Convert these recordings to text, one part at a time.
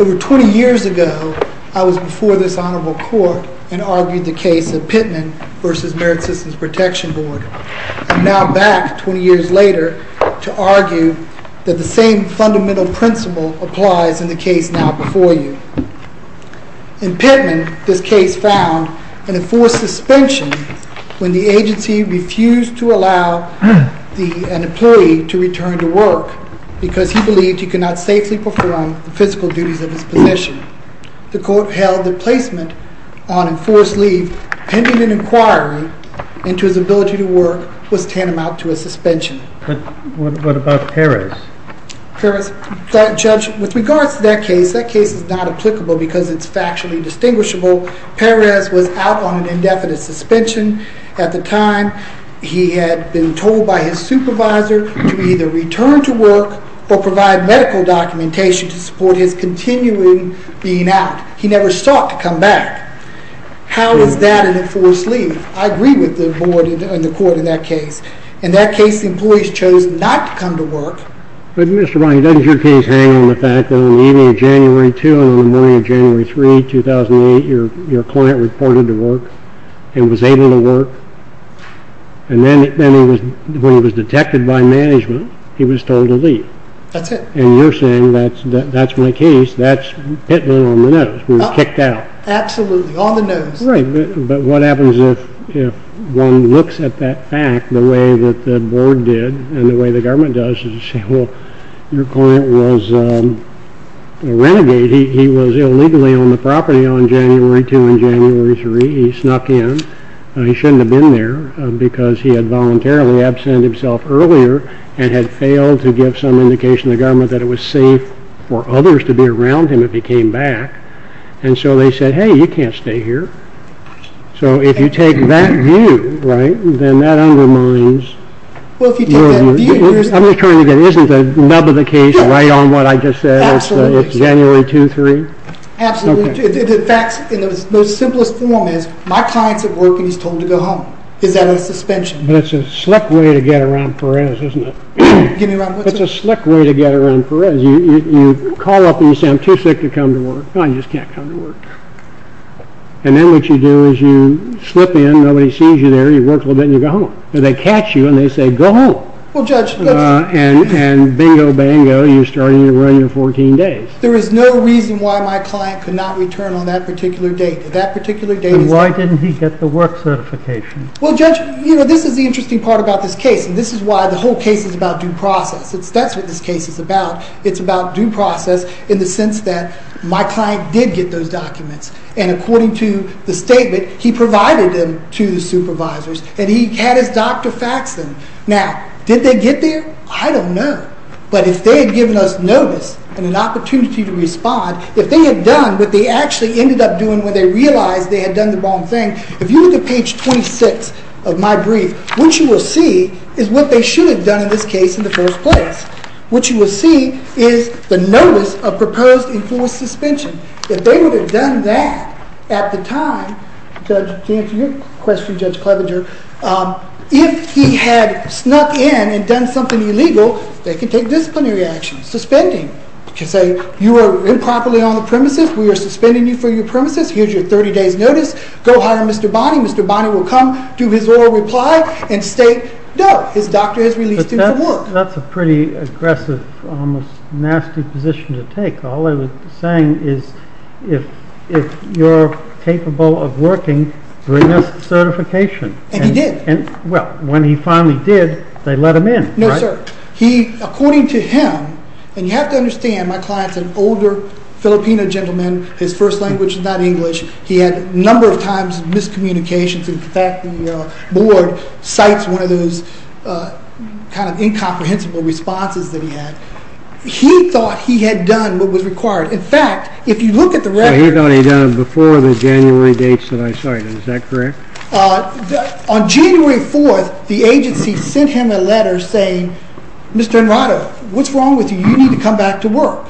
Over 20 years ago, I was before this honorable court and argued the case of Pittman v. Merit when the agency refused to allow an employee to return to work because he believed he could not safely perform the physical duties of his position. The court held that placement on enforced leave pending an inquiry into his ability to work was tantamount to a suspension. But what about Perez? Judge, with regards to that case, that case is not applicable because it's factually distinguishable. Perez was out on an indefinite suspension. At the time, he had been told by his supervisor to either return to work or provide medical documentation to support his continuing being out. He never sought to come back. How is that an enforced leave? I agree with the court in that case. In that case, the employees chose not to come to work. But Mr. Brown, doesn't your case hang on the fact that on the evening of January 2 and the morning of January 3, 2008, your client reported to work and was able to work? And then when he was detected by management, he was told to leave? That's it. And you're saying that's my case. That's Pittman on the nose. He was kicked out. Absolutely. On the other hand, if one looks at that fact the way that the board did and the way the government does, you say, well, your client was a renegade. He was illegally on the property on January 2 and January 3. He snuck in. He shouldn't have been there because he had voluntarily absent himself earlier and had failed to give some indication to the government that it was safe for others to be around him if he came back. And so they said, hey, you can't stay here. So if you take that view, right, then that undermines your view. Well, if you take that view, you're saying— I'm just trying to get—isn't the nub of the case right on what I just said? Absolutely. It's January 2, 3? Absolutely. In fact, the simplest form is, my client's at work and he's told to go home. Is that a suspension? But it's a slick way to get around Perez, isn't it? Give me a round— It's a slick way to get around Perez. You call up and you say, I'm too sick to come to work. I just can't come to work. And then what you do is you slip in. Nobody sees you there. You work a little bit and you go home. And they catch you and they say, go home. Well, Judge— And bingo, bingo, you're starting to run your 14 days. There is no reason why my client could not return on that particular date. That particular date is— And why didn't he get the work certification? Well, Judge, you know, this is the interesting part about this case. And this is why the whole case is about due process. That's what this case is about. It's about due process in the sense that my client did get those documents. And according to the statement, he provided them to the supervisors and he had his doctor fax them. Now, did they get there? I don't know. But if they had given us notice and an opportunity to respond, if they had done what they actually ended up doing when they realized they had done the wrong thing, if you look at page 26 of my brief, what you will see is what they should have done in this case in the first place. What you will see is the notice of proposed enforced suspension. If they would have done that at the time, Judge, to answer your question, Judge Clevenger, if he had snuck in and done something illegal, they could take disciplinary action, suspending. They could say, you were improperly on the premises. We are suspending you for your premises. Here's your 30 days notice. Go hire Mr. Bonney. Mr. Bonney will come to his oral reply and state, no, his doctor has released him from work. But that's a pretty aggressive, almost nasty position to take. All they were saying is if you're capable of working, bring us certification. And he did. Well, when he finally did, they let him in, right? No, sir. According to him, and you have to understand, my client's an older Filipino gentleman. His first language is not English. He had a number of times miscommunications and, in fact, the board cites one of those kind of incomprehensible responses that he had. He thought he had done what was required. In fact, if you look at the record He thought he had done it before the January dates that I cited. Is that correct? On January 4th, the agency sent him a letter saying, Mr. Enrado, what's wrong with you? You need to come back to work.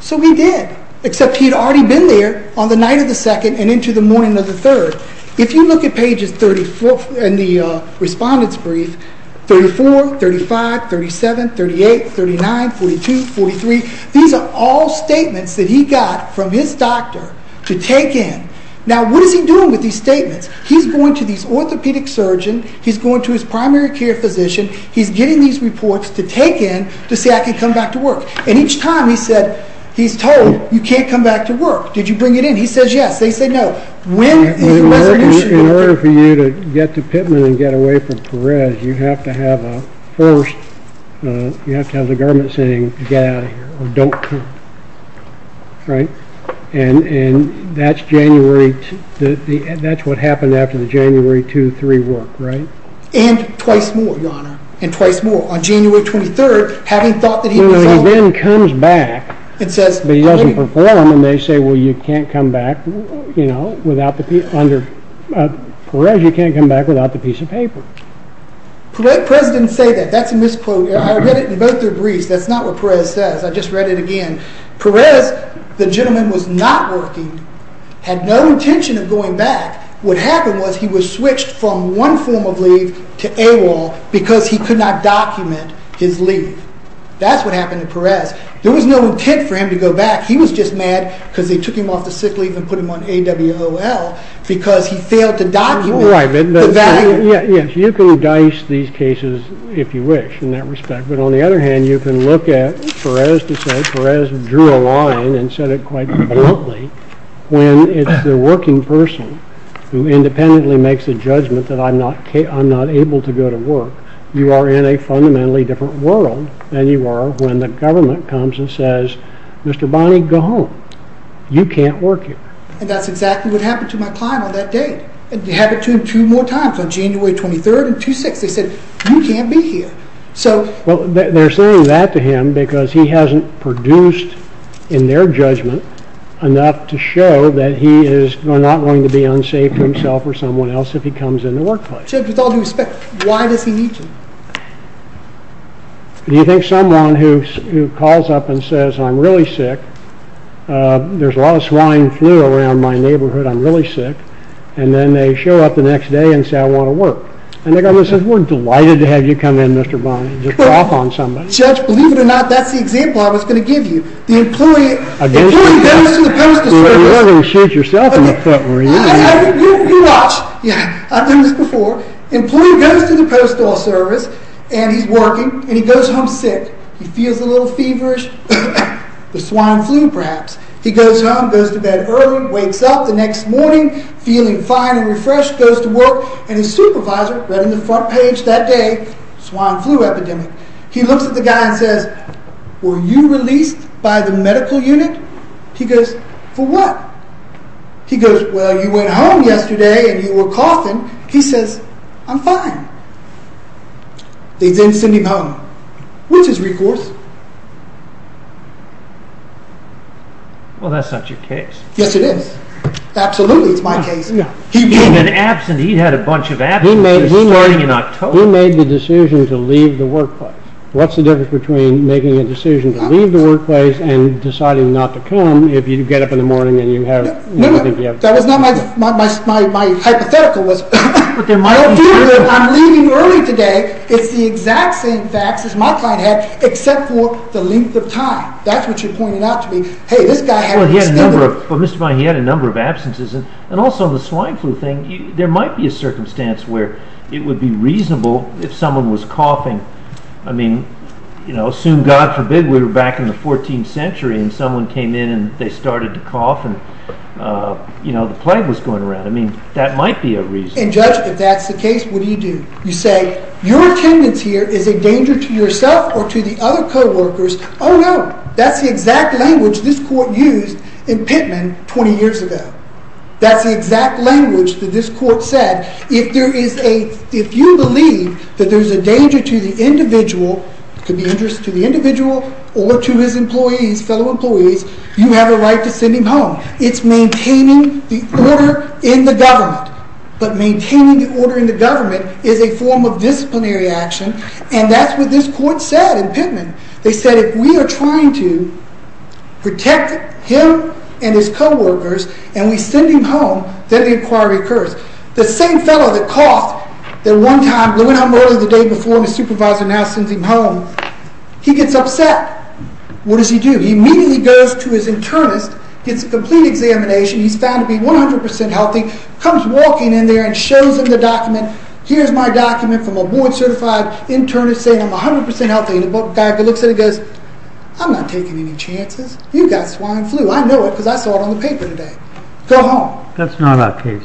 So he did, except he had already been there on the night of the 2nd and into the morning of the 3rd. If you look at pages 34 in the respondent's brief, 34, 35, 37, 38, 39, 42, 43, these are all statements that he got from his doctor to take in. Now, what is he doing with these statements? He's going to this orthopedic surgeon. He's going to his primary care physician. He's getting these reports to take in to say I can come back to work. And each time he said, he's told, you can't come back to work. Did you bring it in? He says, yes. They say, no. In order for you to get to Pittman and get away from Perez, you have to have a first, you have to have the government saying, get out of here or don't come. Right? And that's January, that's what happened after the January 2-3 work, right? And twice more, Your Honor. And twice more. On January 23rd, having thought that he was going to perform, and they say, well, you can't come back without the, under Perez, you can't come back without the piece of paper. Perez didn't say that. That's a misquote. I read it in both their briefs. That's not what Perez says. I just read it again. Perez, the gentleman was not working, had no intention of going back. What happened was he was switched from one form of leave to AWOL because he could not document his leave. That's what happened to Perez. There was no intent for him to go back. He was just mad because they took him off the sick leave and put him on AWOL because he failed to document the value. Yes, you can dice these cases if you wish in that respect. But on the other hand, you can look at Perez to say Perez drew a line and said it quite bluntly when it's the working person who independently makes a judgment that I'm not able to go to work. You are in a fundamentally different world than you are when the government comes and says, Mr. Bonney, go home. You can't work here. And that's exactly what happened to my client on that date. It happened to him two more times, on January 23rd and 26th. They said, you can't be here. Well, they're saying that to him because he hasn't produced in their judgment enough to show that he is not going to be unsafe to himself or someone else if he comes in the workplace. Judge, with all due respect, why does he need you? Do you think someone who calls up and says, I'm really sick, there's a lot of swine flu around my neighborhood, I'm really sick, and then they show up the next day and say, I want to work. And the government says, we're delighted to have you come in, Mr. Bonney. Just drop on somebody. Judge, believe it or not, that's the example I was going to give you. The employee against the employee. You're going to shoot yourself in the foot. You watch. I've done this before. Employee goes to the postal service and he's working and he goes home sick. He feels a little feverish, the swine flu perhaps. He goes home, goes to bed early, wakes up the next morning feeling fine and refreshed, goes to work, and his supervisor read on the front page that day, swine flu epidemic. He looks at the guy and says, were you released by the medical unit? He goes, for what? He goes, well, you went home yesterday and you were coughing. He says, I'm fine. They didn't send him home. Which is recourse. Well, that's not your case. Yes, it is. Absolutely, it's my case. He'd been absent. He'd had a bunch of absences starting in October. You made the decision to leave the workplace. What's the difference between making a decision to leave the workplace and deciding not to come if you get up in the morning and you have... That was not my hypothetical. I'm leaving early today. It's the exact same facts as my client had, except for the length of time. That's what you pointed out to me. Hey, this guy had... He had a number of absences. Also, the swine flu thing, there might be a circumstance where it would be reasonable if someone was coughing. I mean, assume God forbid we were back in the 14th century and someone came in and they started to cough and the plague was going around. I mean, that might be a reason. And Judge, if that's the case, what do you do? You say, your attendance here is a danger to yourself or to the other co-workers. Oh, no. That's the exact language this court used in Pittman 20 years ago. That's the exact language that this court said. If you believe that there's a danger to the individual, it could be dangerous to the individual or to his employees, fellow employees, you have a right to send him home. It's maintaining the order in the government. But maintaining the order in the government is a form of disciplinary action. And that's what this court said in Pittman. They said, if we are trying to protect him and his co-workers and we send him home, then the inquiry occurs. The same fellow that coughed the one time, blew it up early the day before and his supervisor now sends him home, he gets upset. What does he do? He immediately goes to his internist, gets a complete examination, he's found to be 100% healthy, comes walking in there and shows him the document. Here's my document from a board certified internist saying I'm 100% healthy. And the guy that looks at it goes, I'm not taking any chances. You've got swine flu. I know it because I saw it on the paper today. Go home. That's not our case.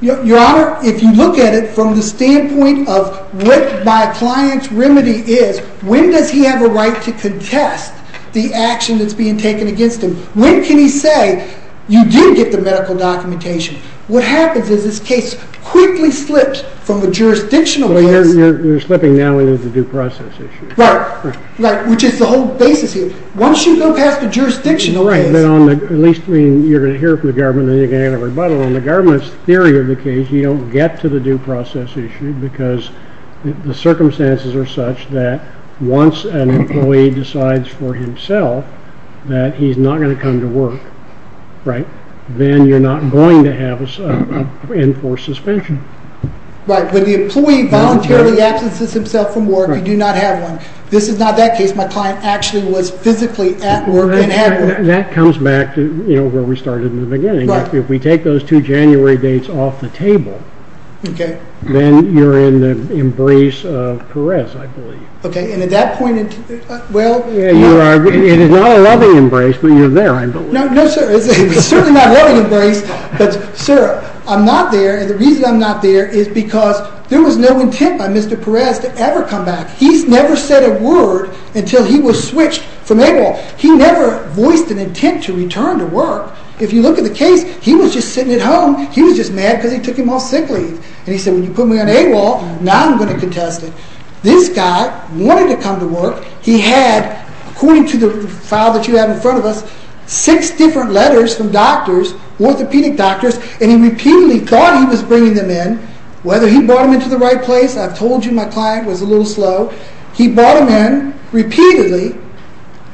Your Honor, if you look at it from the standpoint of what my client's remedy is, when does he have a right to contest the action that's being taken against him? When can he say, you did get the medical documentation? What happens is this case quickly slips from the jurisdictional lens. You're slipping now into the due process issue. Right. Which is the whole basis here. Once you go past the jurisdictional lens. Right. At least you're going to hear it from the government and you're going to get a rebuttal. On the government's theory of the case, you don't get to the due process issue because the circumstances are such that once an employee decides for himself that he's not going to come to work, then you're not going to have an enforced suspension. Right. When the employee voluntarily absences himself from work, you do not have one. This is not that case. My client actually was physically at work and had work. That comes back to where we started in the beginning. If we take those two January dates off the table, then you're in the embrace of caress, I believe. Okay. And at that point, well... It is not a loving embrace, but you're there, I believe. No, sir. It's certainly not a loving embrace. But, sir, I'm not there. And the reason I'm not there is because there was no intent by Mr. Perez to ever come back. He's never said a word until he was switched from AWOL. He never voiced an intent to return to work. If you look at the case, he was just sitting at home. He was just mad because he took him off sick leave. And he said, when you put me on AWOL, now I'm going to contest it. This guy wanted to come to work. He had, according to the file that you have in front of us, six different letters from doctors, orthopedic doctors, and he repeatedly thought he was bringing them in, whether he brought them into the right place. I've told you my client was a little slow. He brought them in repeatedly,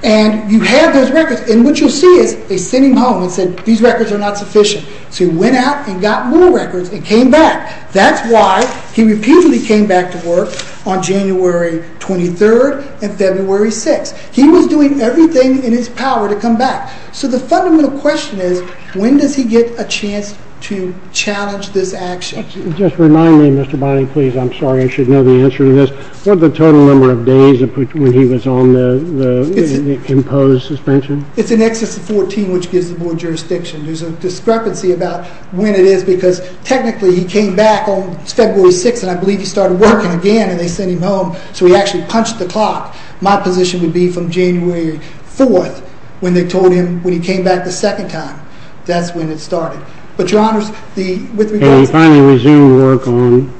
and you had those records. And what you'll see is they sent him home and said, these records are not sufficient. So he went out and got more records and came back. That's why he repeatedly came back to work on January 23rd and February 6th. He was doing everything in his power to come back. So the fundamental question is, when does he get a chance to challenge this action? Just remind me, Mr. Bynum, please. I'm sorry. I should know the answer to this. What was the total number of days when he was on the imposed suspension? It's in excess of 14, which gives the board jurisdiction. There's a discrepancy about when it is because technically he came back on February 6th, and I believe he started working again, and they sent him home. So he actually punched the clock. My position would be from January 4th when they told him when he came back the second time. That's when it started. And he finally resumed work on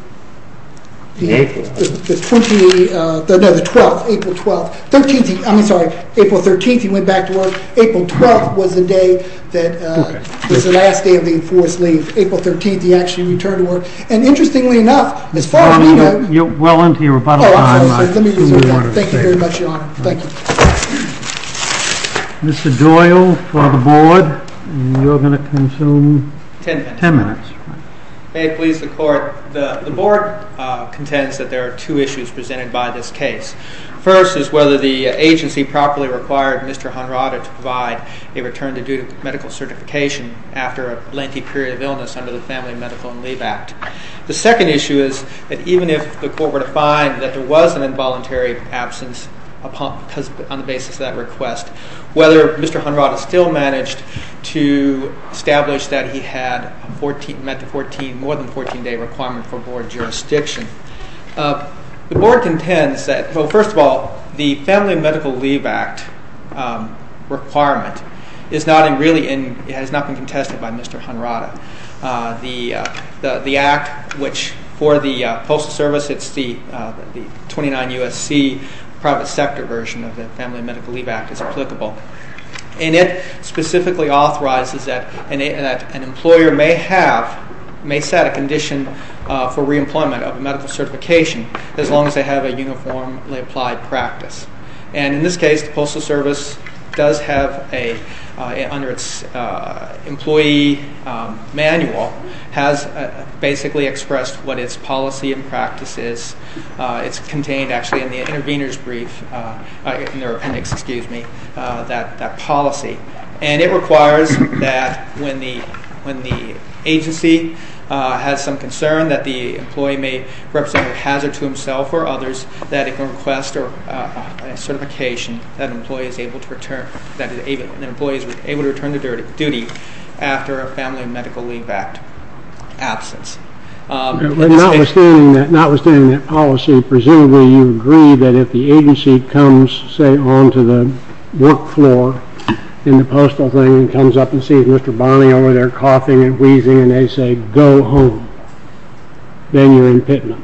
April 12th. April 13th he went back to work. April 12th was the last day of the enforced leave. April 13th he actually returned to work. And interestingly enough, as far as I know... You're well into your rebuttal time. Thank you very much, Your Honor. Thank you. Mr. Doyle for the board. You're going to consume ten minutes. May it please the Court. The board contends that there are two issues presented by this case. First is whether the agency properly required Mr. Honrada to provide a return to due to medical certification after a lengthy period of illness under the Family, Medical, and Leave Act. The second issue is that even if the Court were to find that there was an involuntary absence on the basis of that request, whether Mr. Honrada still managed to establish that he had met the more than 14-day requirement for board jurisdiction. The board contends that, first of all, the Family, Medical, and Leave Act requirement has not been contested by Mr. Honrada. The act, which for the Postal Service, it's the 29 U.S.C. private sector version of the Family, Medical, and Leave Act, is applicable. And it specifically authorizes that an employer may set a condition for re-employment of a medical certification as long as they have a uniformly applied practice. And in this case, the Postal Service does have, under its employee manual, has basically expressed what its policy and practice is. It's contained actually in the intervener's brief, in their appendix, excuse me, that policy. And it requires that when the agency has some concern that the employee may represent a hazard to himself or others that it can request a certification that an employee is able to return to duty after a Family, Medical, and Leave Act absence. Notwithstanding that policy, presumably you agree that if the agency comes, say, onto the work floor in the postal thing and comes up and sees Mr. Barney over there coughing and wheezing and they say, go home, then you're in Pittman.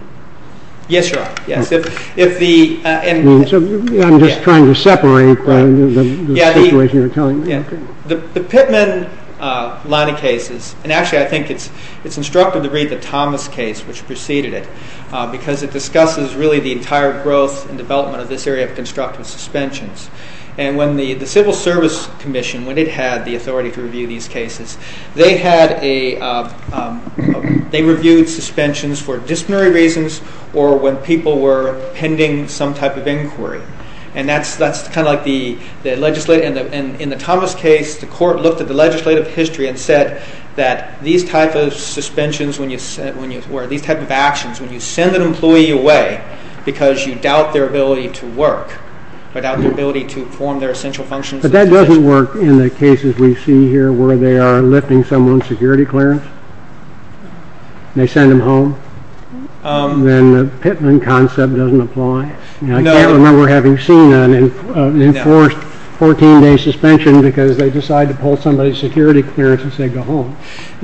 Yes, Your Honor. I'm just trying to separate the situation you're telling me. The Pittman line of cases, and actually I think it's instructive to read the Thomas case, which preceded it, because it discusses really the entire growth and development of this area of constructive suspensions. And when the Civil Service Commission, when it had the authority to review these cases, they reviewed suspensions for disciplinary reasons or when people were pending some type of inquiry. And that's kind of like the legislative. In the Thomas case, the court looked at the legislative history and said that these type of suspensions, or these type of actions, when you send an employee away because you doubt their ability to work, or doubt their ability to perform their essential functions. But that doesn't work in the cases we see here where they are lifting someone's security clearance. They send them home. Then the Pittman concept doesn't apply. I can't remember having seen an enforced 14-day suspension because they decide to pull somebody's security clearance and say go home,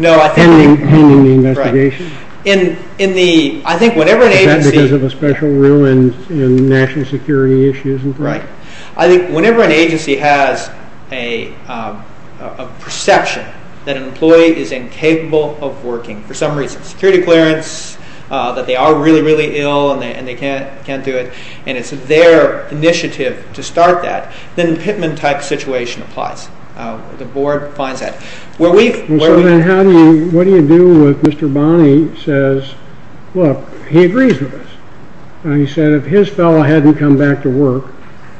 pending the investigation. I think whenever an agency... Is that because of a special rule in national security issues? Right. I think whenever an agency has a perception that an employee is incapable of working for some reason, security clearance, that they are really, really ill and they can't do it, and it's their initiative to start that, then the Pittman type situation applies. The board finds that. So then what do you do if Mr. Bonney says, look, he agrees with us. He said if his fellow hadn't come back to work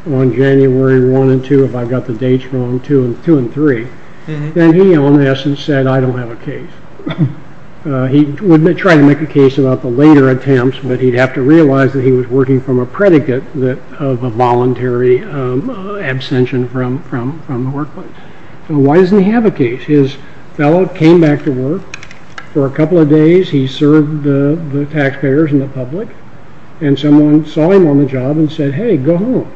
on January 1 and 2, if I've got the dates wrong, 2 and 3, then he, in essence, said I don't have a case. He would try to make a case about the later attempts, but he'd have to realize that he was working from a predicate of a voluntary abstention from the workplace. So why doesn't he have a case? His fellow came back to work. For a couple of days he served the taxpayers and the public, and someone saw him on the job and said, hey, go home.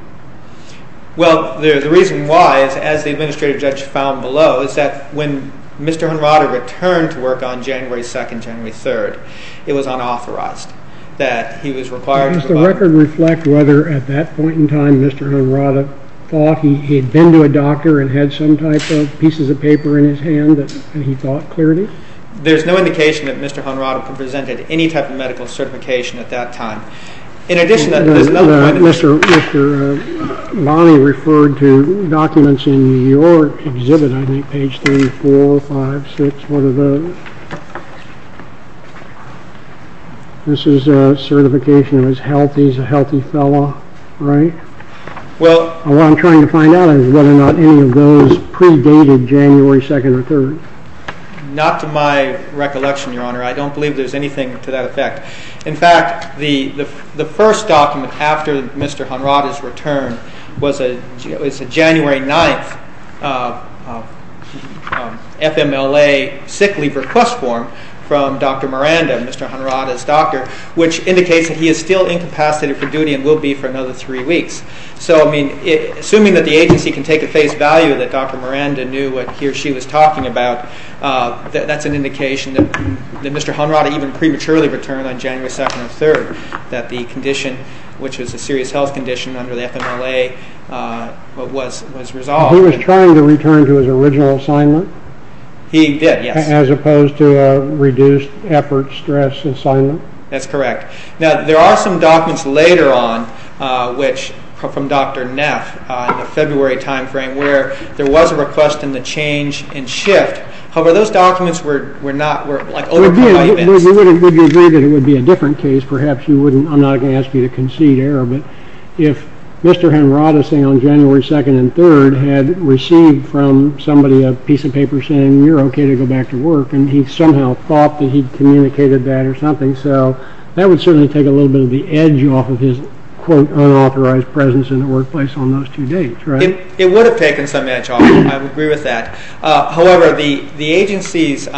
Well, the reason why, as the administrative judge found below, is that when Mr. Henrata returned to work on January 2 and January 3, it was unauthorized. That he was required to... Does the record reflect whether at that point in time Mr. Henrata thought he had been to a doctor and had some type of pieces of paper in his hand and he thought clearly? There's no indication that Mr. Henrata presented any type of medical certification at that time. In addition, Mr. Bonney referred to documents in your exhibit, I think, page 3, 4, 5, 6. What are those? This is a certification of his health. He's a healthy fellow, right? What I'm trying to find out is whether or not any of those predated January 2 or 3. Not to my recollection, Your Honor. I don't believe there's anything to that effect. In fact, the first document after Mr. Henrata's return was a January 9th FMLA sick leave request form from Dr. Miranda, Mr. Henrata's doctor, which indicates that he is still incapacitated for duty and will be for another three weeks. Assuming that the agency can take at face value that Dr. Miranda knew what he or she was talking about, that's an indication that Mr. Henrata even prematurely returned on January 2 or 3, that the condition, which was a serious health condition under the FMLA, was resolved. He was trying to return to his original assignment? He did, yes. As opposed to a reduced effort stress assignment? That's correct. Now, there are some documents later on, from Dr. Neff, in the February time frame, where there was a request in the change and shift. However, those documents were not, like, overcome by events. Would you agree that it would be a different case? Perhaps you wouldn't, I'm not going to ask you to concede error, but if Mr. Henrata, say, on January 2 and 3 had received from somebody a piece of paper saying, you're okay to go back to work, and he somehow thought that he communicated that or something, so that would certainly take a little bit of the edge off of his, quote, unauthorized presence in the workplace on those two dates, right? It would have taken some edge off, I would agree with that. However, the agency's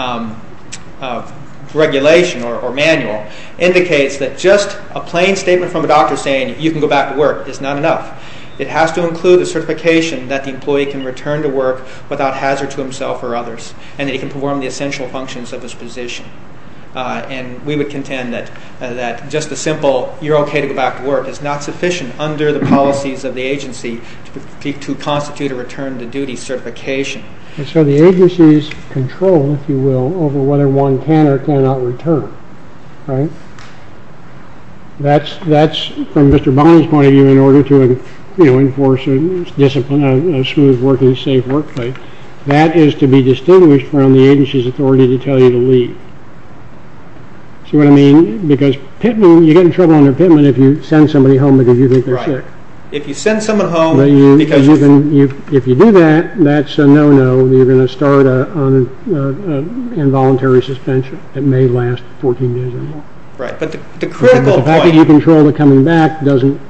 regulation or manual indicates that just a plain statement from a doctor saying, you can go back to work, is not enough. It has to include a certification that the employee can return to work without hazard to himself or others, and that he can perform the essential functions of his position. And we would contend that just a simple, you're okay to go back to work, is not sufficient under the policies of the agency to constitute a return to duty certification. So the agency's control, if you will, over whether one can or cannot return, right? That's, from Mr. Bonnell's point of view, in order to enforce a smooth, safe workplace. That is to be distinguished from the agency's authority to tell you to leave. See what I mean? Because you get in trouble under Pittman if you send somebody home because you think they're sick. Right. If you send someone home because you think they're sick. If you do that, that's a no-no. You're going to start an involuntary suspension that may last 14 days or more. Right. But the critical point... The fact that you control the coming back doesn't...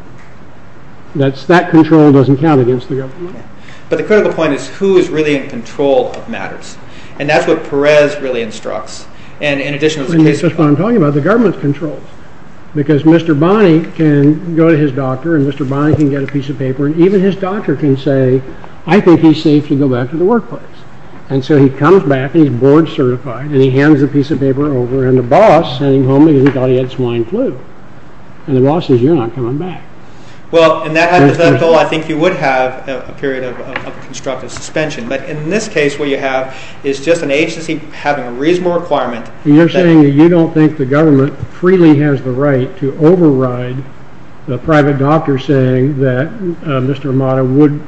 That control doesn't count against the government. But the critical point is who is really in control of matters. And that's what Perez really instructs. And in addition, there's a case... And that's what I'm talking about, the government's control. Because Mr. Bonney can go to his doctor, and Mr. Bonney can get a piece of paper, and even his doctor can say, I think he's safe to go back to the workplace. And so he comes back, and he's board-certified, and he hands the piece of paper over, and the boss sent him home because he thought he had swine flu. And the boss says, you're not coming back. Well, in that hypothetical, I think you would have a period of constructive suspension. But in this case, what you have is just an agency having a reasonable requirement... You're saying that you don't think the government freely has the right to override a private doctor saying that Mr. Armato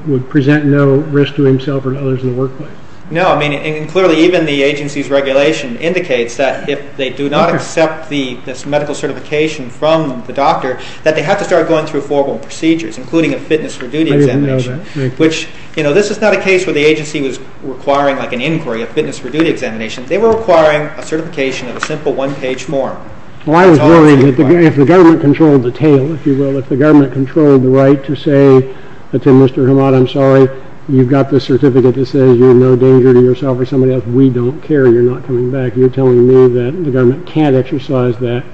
would present no risk to himself or to others in the workplace. No, I mean, clearly even the agency's regulation indicates that if they do not accept this medical certification from the doctor, that they have to start going through formal procedures, including a fitness for duty examination. I didn't know that. Which, you know, this is not a case where the agency was requiring like an inquiry, a fitness for duty examination. They were requiring a certification of a simple one-page form. Well, I was worried that if the government controlled the tail, if you will, if the government controlled the right to say to Mr. Armato, I'm sorry, you've got this certificate that says you're in no danger to yourself or somebody else, we don't care. You're not coming back. You're telling me that the government can't exercise that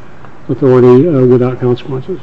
authority without consequences.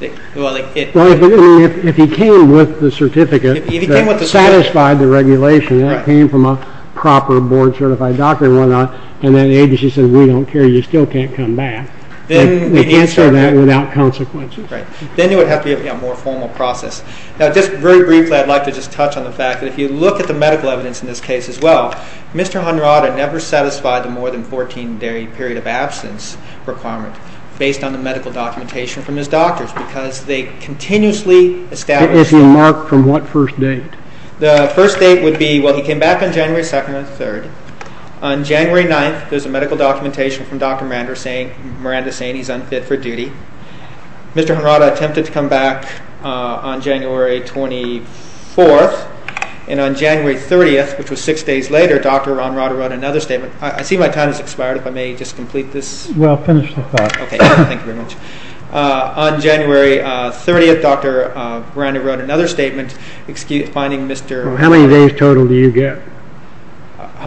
If he came with the certificate that satisfied the regulation, that came from a proper board-certified doctor and whatnot, and then the agency says, we don't care, you still can't come back, they answer that without consequences. Right. Then it would have to be a more formal process. Now, just very briefly, I'd like to just touch on the fact that if you look at the medical evidence in this case as well, Mr. Armato never satisfied the more than 14-day period of absence requirement based on the medical documentation from his doctors because they continuously established... If you mark from what first date? The first date would be, well, he came back on January 2nd or 3rd. On January 9th, there's a medical documentation from Dr. Miranda saying he's unfit for duty. Mr. Armato attempted to come back on January 24th, and on January 30th, which was six days later, Dr. Armato wrote another statement. I see my time has expired, if I may just complete this. Well, finish the thought. Okay, thank you very much. On January 30th, Dr. Miranda wrote another statement finding Mr. Armato... How many days total do you get?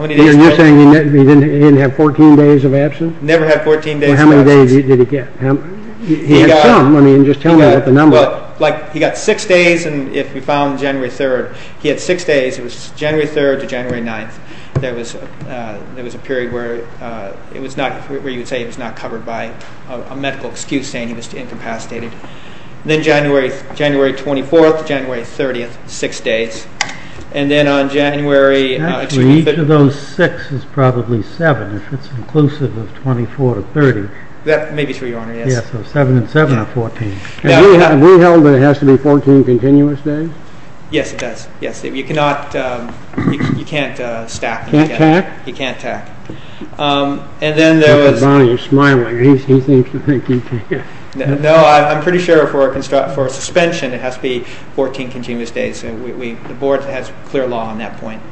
You're saying he didn't have 14 days of absence? Never had 14 days of absence. Well, how many days did he get? He had some. I mean, just tell me what the number is. He got six days, and if we found January 3rd, he had six days. It was January 3rd to January 9th. There was a period where you would say he was not covered by a medical excuse saying he was incapacitated. Then January 24th, January 30th, six days. And then on January... Actually, each of those six is probably seven, if it's inclusive of 24 to 30. That may be true, Your Honor, yes. Yes, so seven and seven are 14. Have we held that it has to be 14 continuous days? Yes, it does. Yes, you cannot stack. Can't tack? You can't tack. And then there was... Bonnie, you're smiling. He seems to think you can't. No, I'm pretty sure for a suspension, it has to be 14 continuous days. The Board has clear law on that point.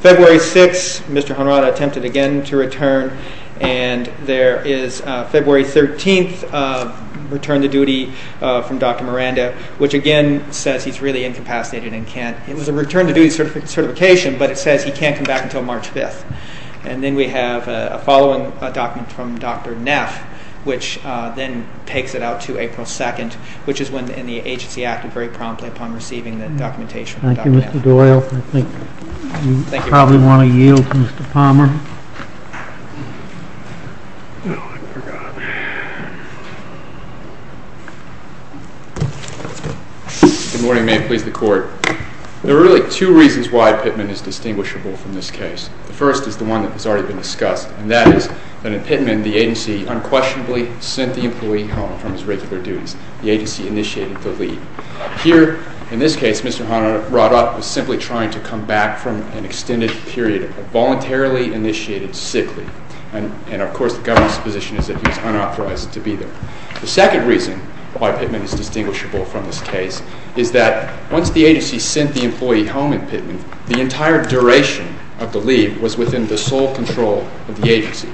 February 6th, Mr. Honrada attempted again to return, and there is February 13th return to duty from Dr. Miranda, which again says he's really incapacitated and can't... It was a return to duty certification, but it says he can't come back until March 5th. And then we have a following document from Dr. Neff, which then takes it out to April 2nd, which is when the agency acted very promptly upon receiving the documentation from Dr. Neff. Thank you, Mr. Doyle. I think you probably want to yield to Mr. Palmer. Good morning. May it please the Court. There are really two reasons why Pittman is distinguishable from this case. The first is the one that has already been discussed, and that is that in Pittman, the agency unquestionably sent the employee home from his regular duties. The agency initiated the leave. Here, in this case, Mr. Honrada was simply trying to come back from an extended period of voluntarily initiated sick leave. And, of course, the government's position is that he was unauthorized to be there. The second reason why Pittman is distinguishable from this case is that once the agency sent the employee home in Pittman, the entire duration of the leave was within the sole control of the agency.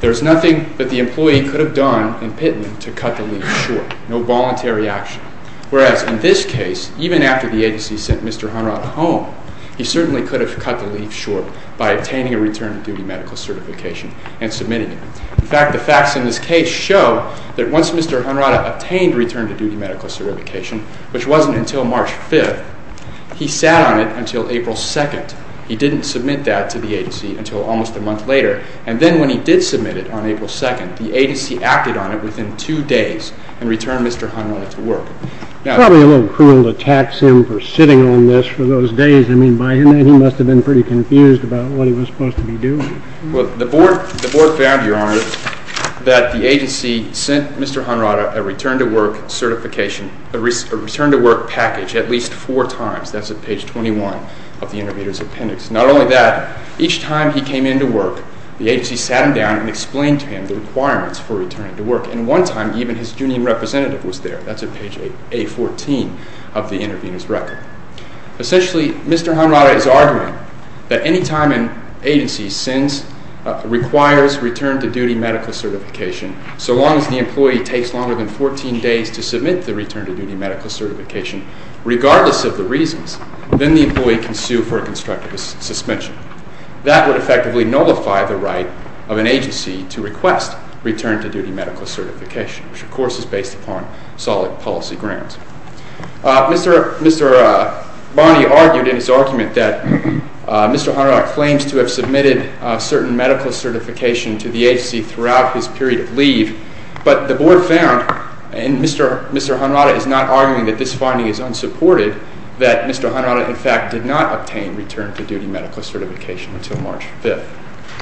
There is nothing that the employee could have done in Pittman to cut the leave short. No voluntary action. Whereas, in this case, even after the agency sent Mr. Honrada home, he certainly could have cut the leave short by obtaining a return to duty medical certification and submitting it. In fact, the facts in this case show that once Mr. Honrada obtained a return to duty medical certification, which wasn't until March 5th, he sat on it until April 2nd. He didn't submit that to the agency until almost a month later. And then when he did submit it on April 2nd, the agency acted on it within two days and returned Mr. Honrada to work. It's probably a little cruel to tax him for sitting on this for those days. I mean, by then he must have been pretty confused about what he was supposed to be doing. Well, the board found, Your Honor, that the agency sent Mr. Honrada a return to work certification, a return to work package at least four times. That's at page 21 of the intervener's appendix. Not only that, each time he came into work, the agency sat him down and explained to him the requirements for returning to work. And one time, even his union representative was there. That's at page A14 of the intervener's record. Essentially, Mr. Honrada is arguing that any time an agency sends, requires return to duty medical certification, so long as the employee takes longer than 14 days to submit the return to duty medical certification, regardless of the reasons, then the employee can sue for a constructive suspension. That would effectively nullify the right of an agency to request return to duty medical certification, which, of course, is based upon solid policy grounds. Mr. Bonney argued in his argument that Mr. Honrada claims to have submitted certain medical certification to the agency throughout his period of leave, but the board found, and Mr. Honrada is not arguing that this finding is unsupported, that Mr. Honrada, in fact, did not obtain return to duty medical certification until March 5th.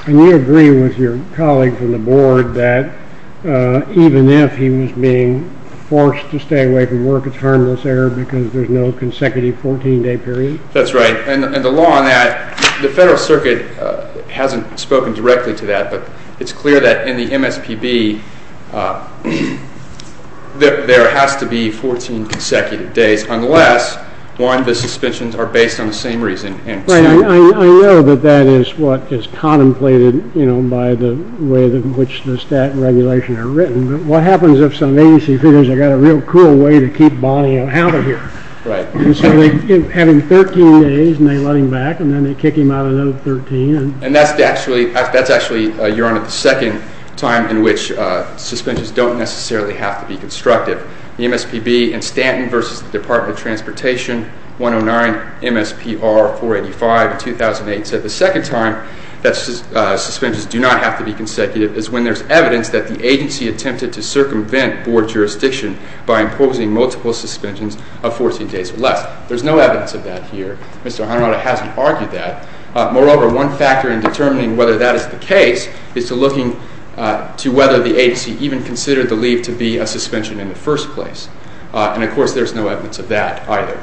And you agree with your colleague from the board that even if he was being forced to stay away from work, it's harmless error because there's no consecutive 14-day period? That's right. And the law on that, the Federal Circuit hasn't spoken directly to that, but it's clear that in the MSPB, there has to be 14 consecutive days, unless, one, the suspensions are based on the same reason. I know that that is what is contemplated by the way in which the stat regulations are written, but what happens if some agency figures they've got a real cool way to keep Bonney out of here? Right. So they have him 13 days, and they let him back, and then they kick him out another 13. And that's actually, Your Honor, the second time in which suspensions don't necessarily have to be constructive. The MSPB in Stanton versus the Department of Transportation, 109 MSPR 485, 2008, said the second time that suspensions do not have to be consecutive is when there's evidence that the agency attempted to circumvent board jurisdiction by imposing multiple suspensions of 14 days or less. There's no evidence of that here. Mr. Honrada hasn't argued that. Moreover, one factor in determining whether that is the case is to looking to whether the agency even considered the leave to be a suspension in the first place. And, of course, there's no evidence of that either.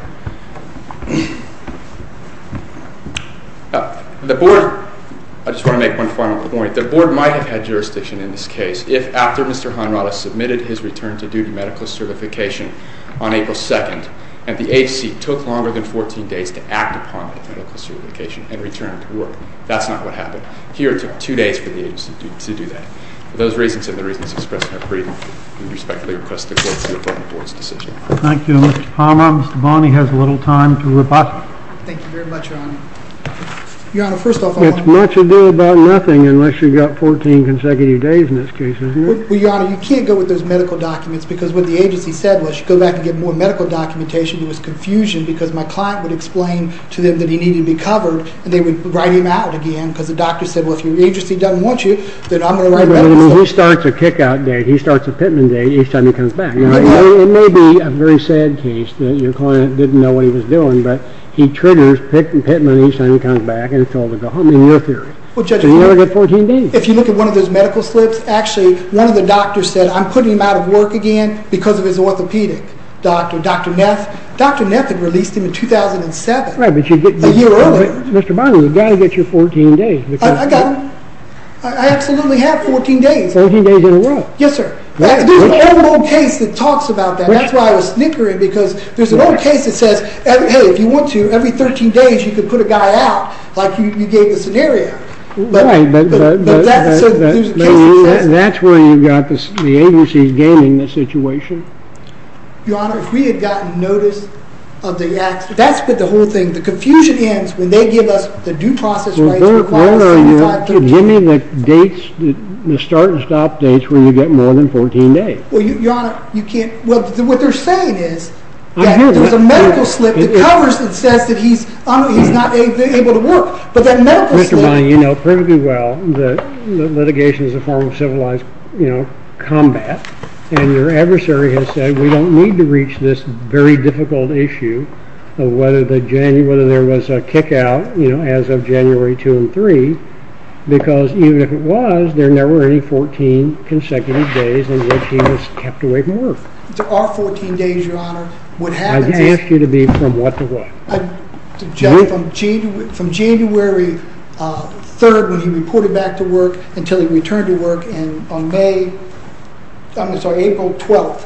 The board, I just want to make one final point. The board might have had jurisdiction in this case if, after Mr. Honrada submitted his return to duty medical certification on April 2nd, and the agency took longer than 14 days to act upon the medical certification and return to work. That's not what happened. Here it took two days for the agency to do that. For those reasons and the reasons expressed in my brief, I respectfully request the court to approve the board's decision. Thank you, Mr. Palmer. Mr. Bonney has little time to reply. Thank you very much, Your Honor. It's much ado about nothing unless you've got 14 consecutive days in this case, isn't it? Well, Your Honor, you can't go with those medical documents because what the agency said was go back and get more medical documentation. It was confusion because my client would explain to them that he needed to be covered, and they would write him out again because the doctor said, well, if your agency doesn't want you, then I'm going to write the medical certificate. He starts a kick-out date. He starts a Pittman date each time he comes back. It may be a very sad case that your client didn't know what he was doing, but he triggers Pittman each time he comes back, and it's all to go home, in your theory. You never get 14 days. If you look at one of those medical slips, actually one of the doctors said, I'm putting him out of work again because of his orthopedic doctor, Dr. Neff. Dr. Neff had released him in 2007, a year earlier. Mr. Bonney, you've got to get your 14 days. I got them. I absolutely have 14 days. 14 days in a row. Yes, sir. There's an old, old case that talks about that. That's why I was snickering, because there's an old case that says, hey, if you want to, every 13 days you could put a guy out, like you gave the scenario. Right, but that's where you've got the agency gaining the situation. Your Honor, if we had gotten notice of the accident, that's the whole thing. The confusion ends when they give us the due process rights. Your Honor, give me the start and stop dates where you get more than 14 days. Your Honor, you can't. What they're saying is that there's a medical slip that covers and says that he's not able to work. But that medical slip. Mr. Bonney, you know perfectly well that litigation is a form of civilized combat. And your adversary has said we don't need to reach this very difficult issue of whether there was a kick out as of January 2 and 3, because even if it was, there never were any 14 consecutive days in which he was kept away from work. There are 14 days, Your Honor. I've asked you to be from what to what. From January 3rd when he reported back to work until he returned to work on April 12th,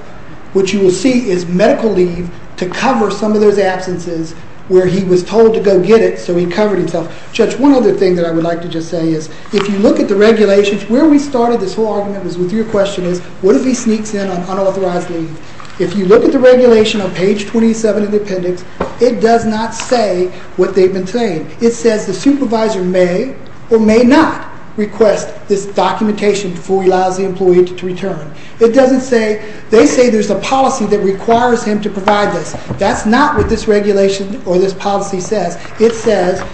which you will see is medical leave to cover some of those absences where he was told to go get it, so he covered himself. Judge, one other thing that I would like to just say is if you look at the regulations, where we started this whole argument with your question is what if he sneaks in on unauthorized leave? If you look at the regulation on page 27 of the appendix, it does not say what they've been saying. It says the supervisor may or may not request this documentation before he allows the employee to return. They say there's a policy that requires him to provide this. That's not what this regulation or this policy says. It says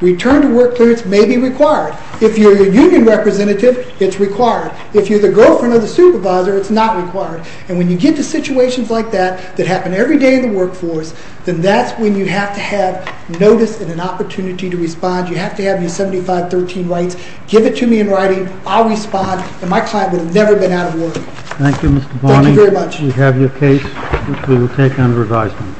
return to work clearance may be required. If you're a union representative, it's required. If you're the girlfriend of the supervisor, it's not required. And when you get to situations like that that happen every day in the workforce, then that's when you have to have notice and an opportunity to respond. You have to have your 7513 rights. Give it to me in writing. I'll respond. And my client would have never been out of work. Thank you, Mr. Bonney. Thank you very much. We have your case, which we will take under advisement.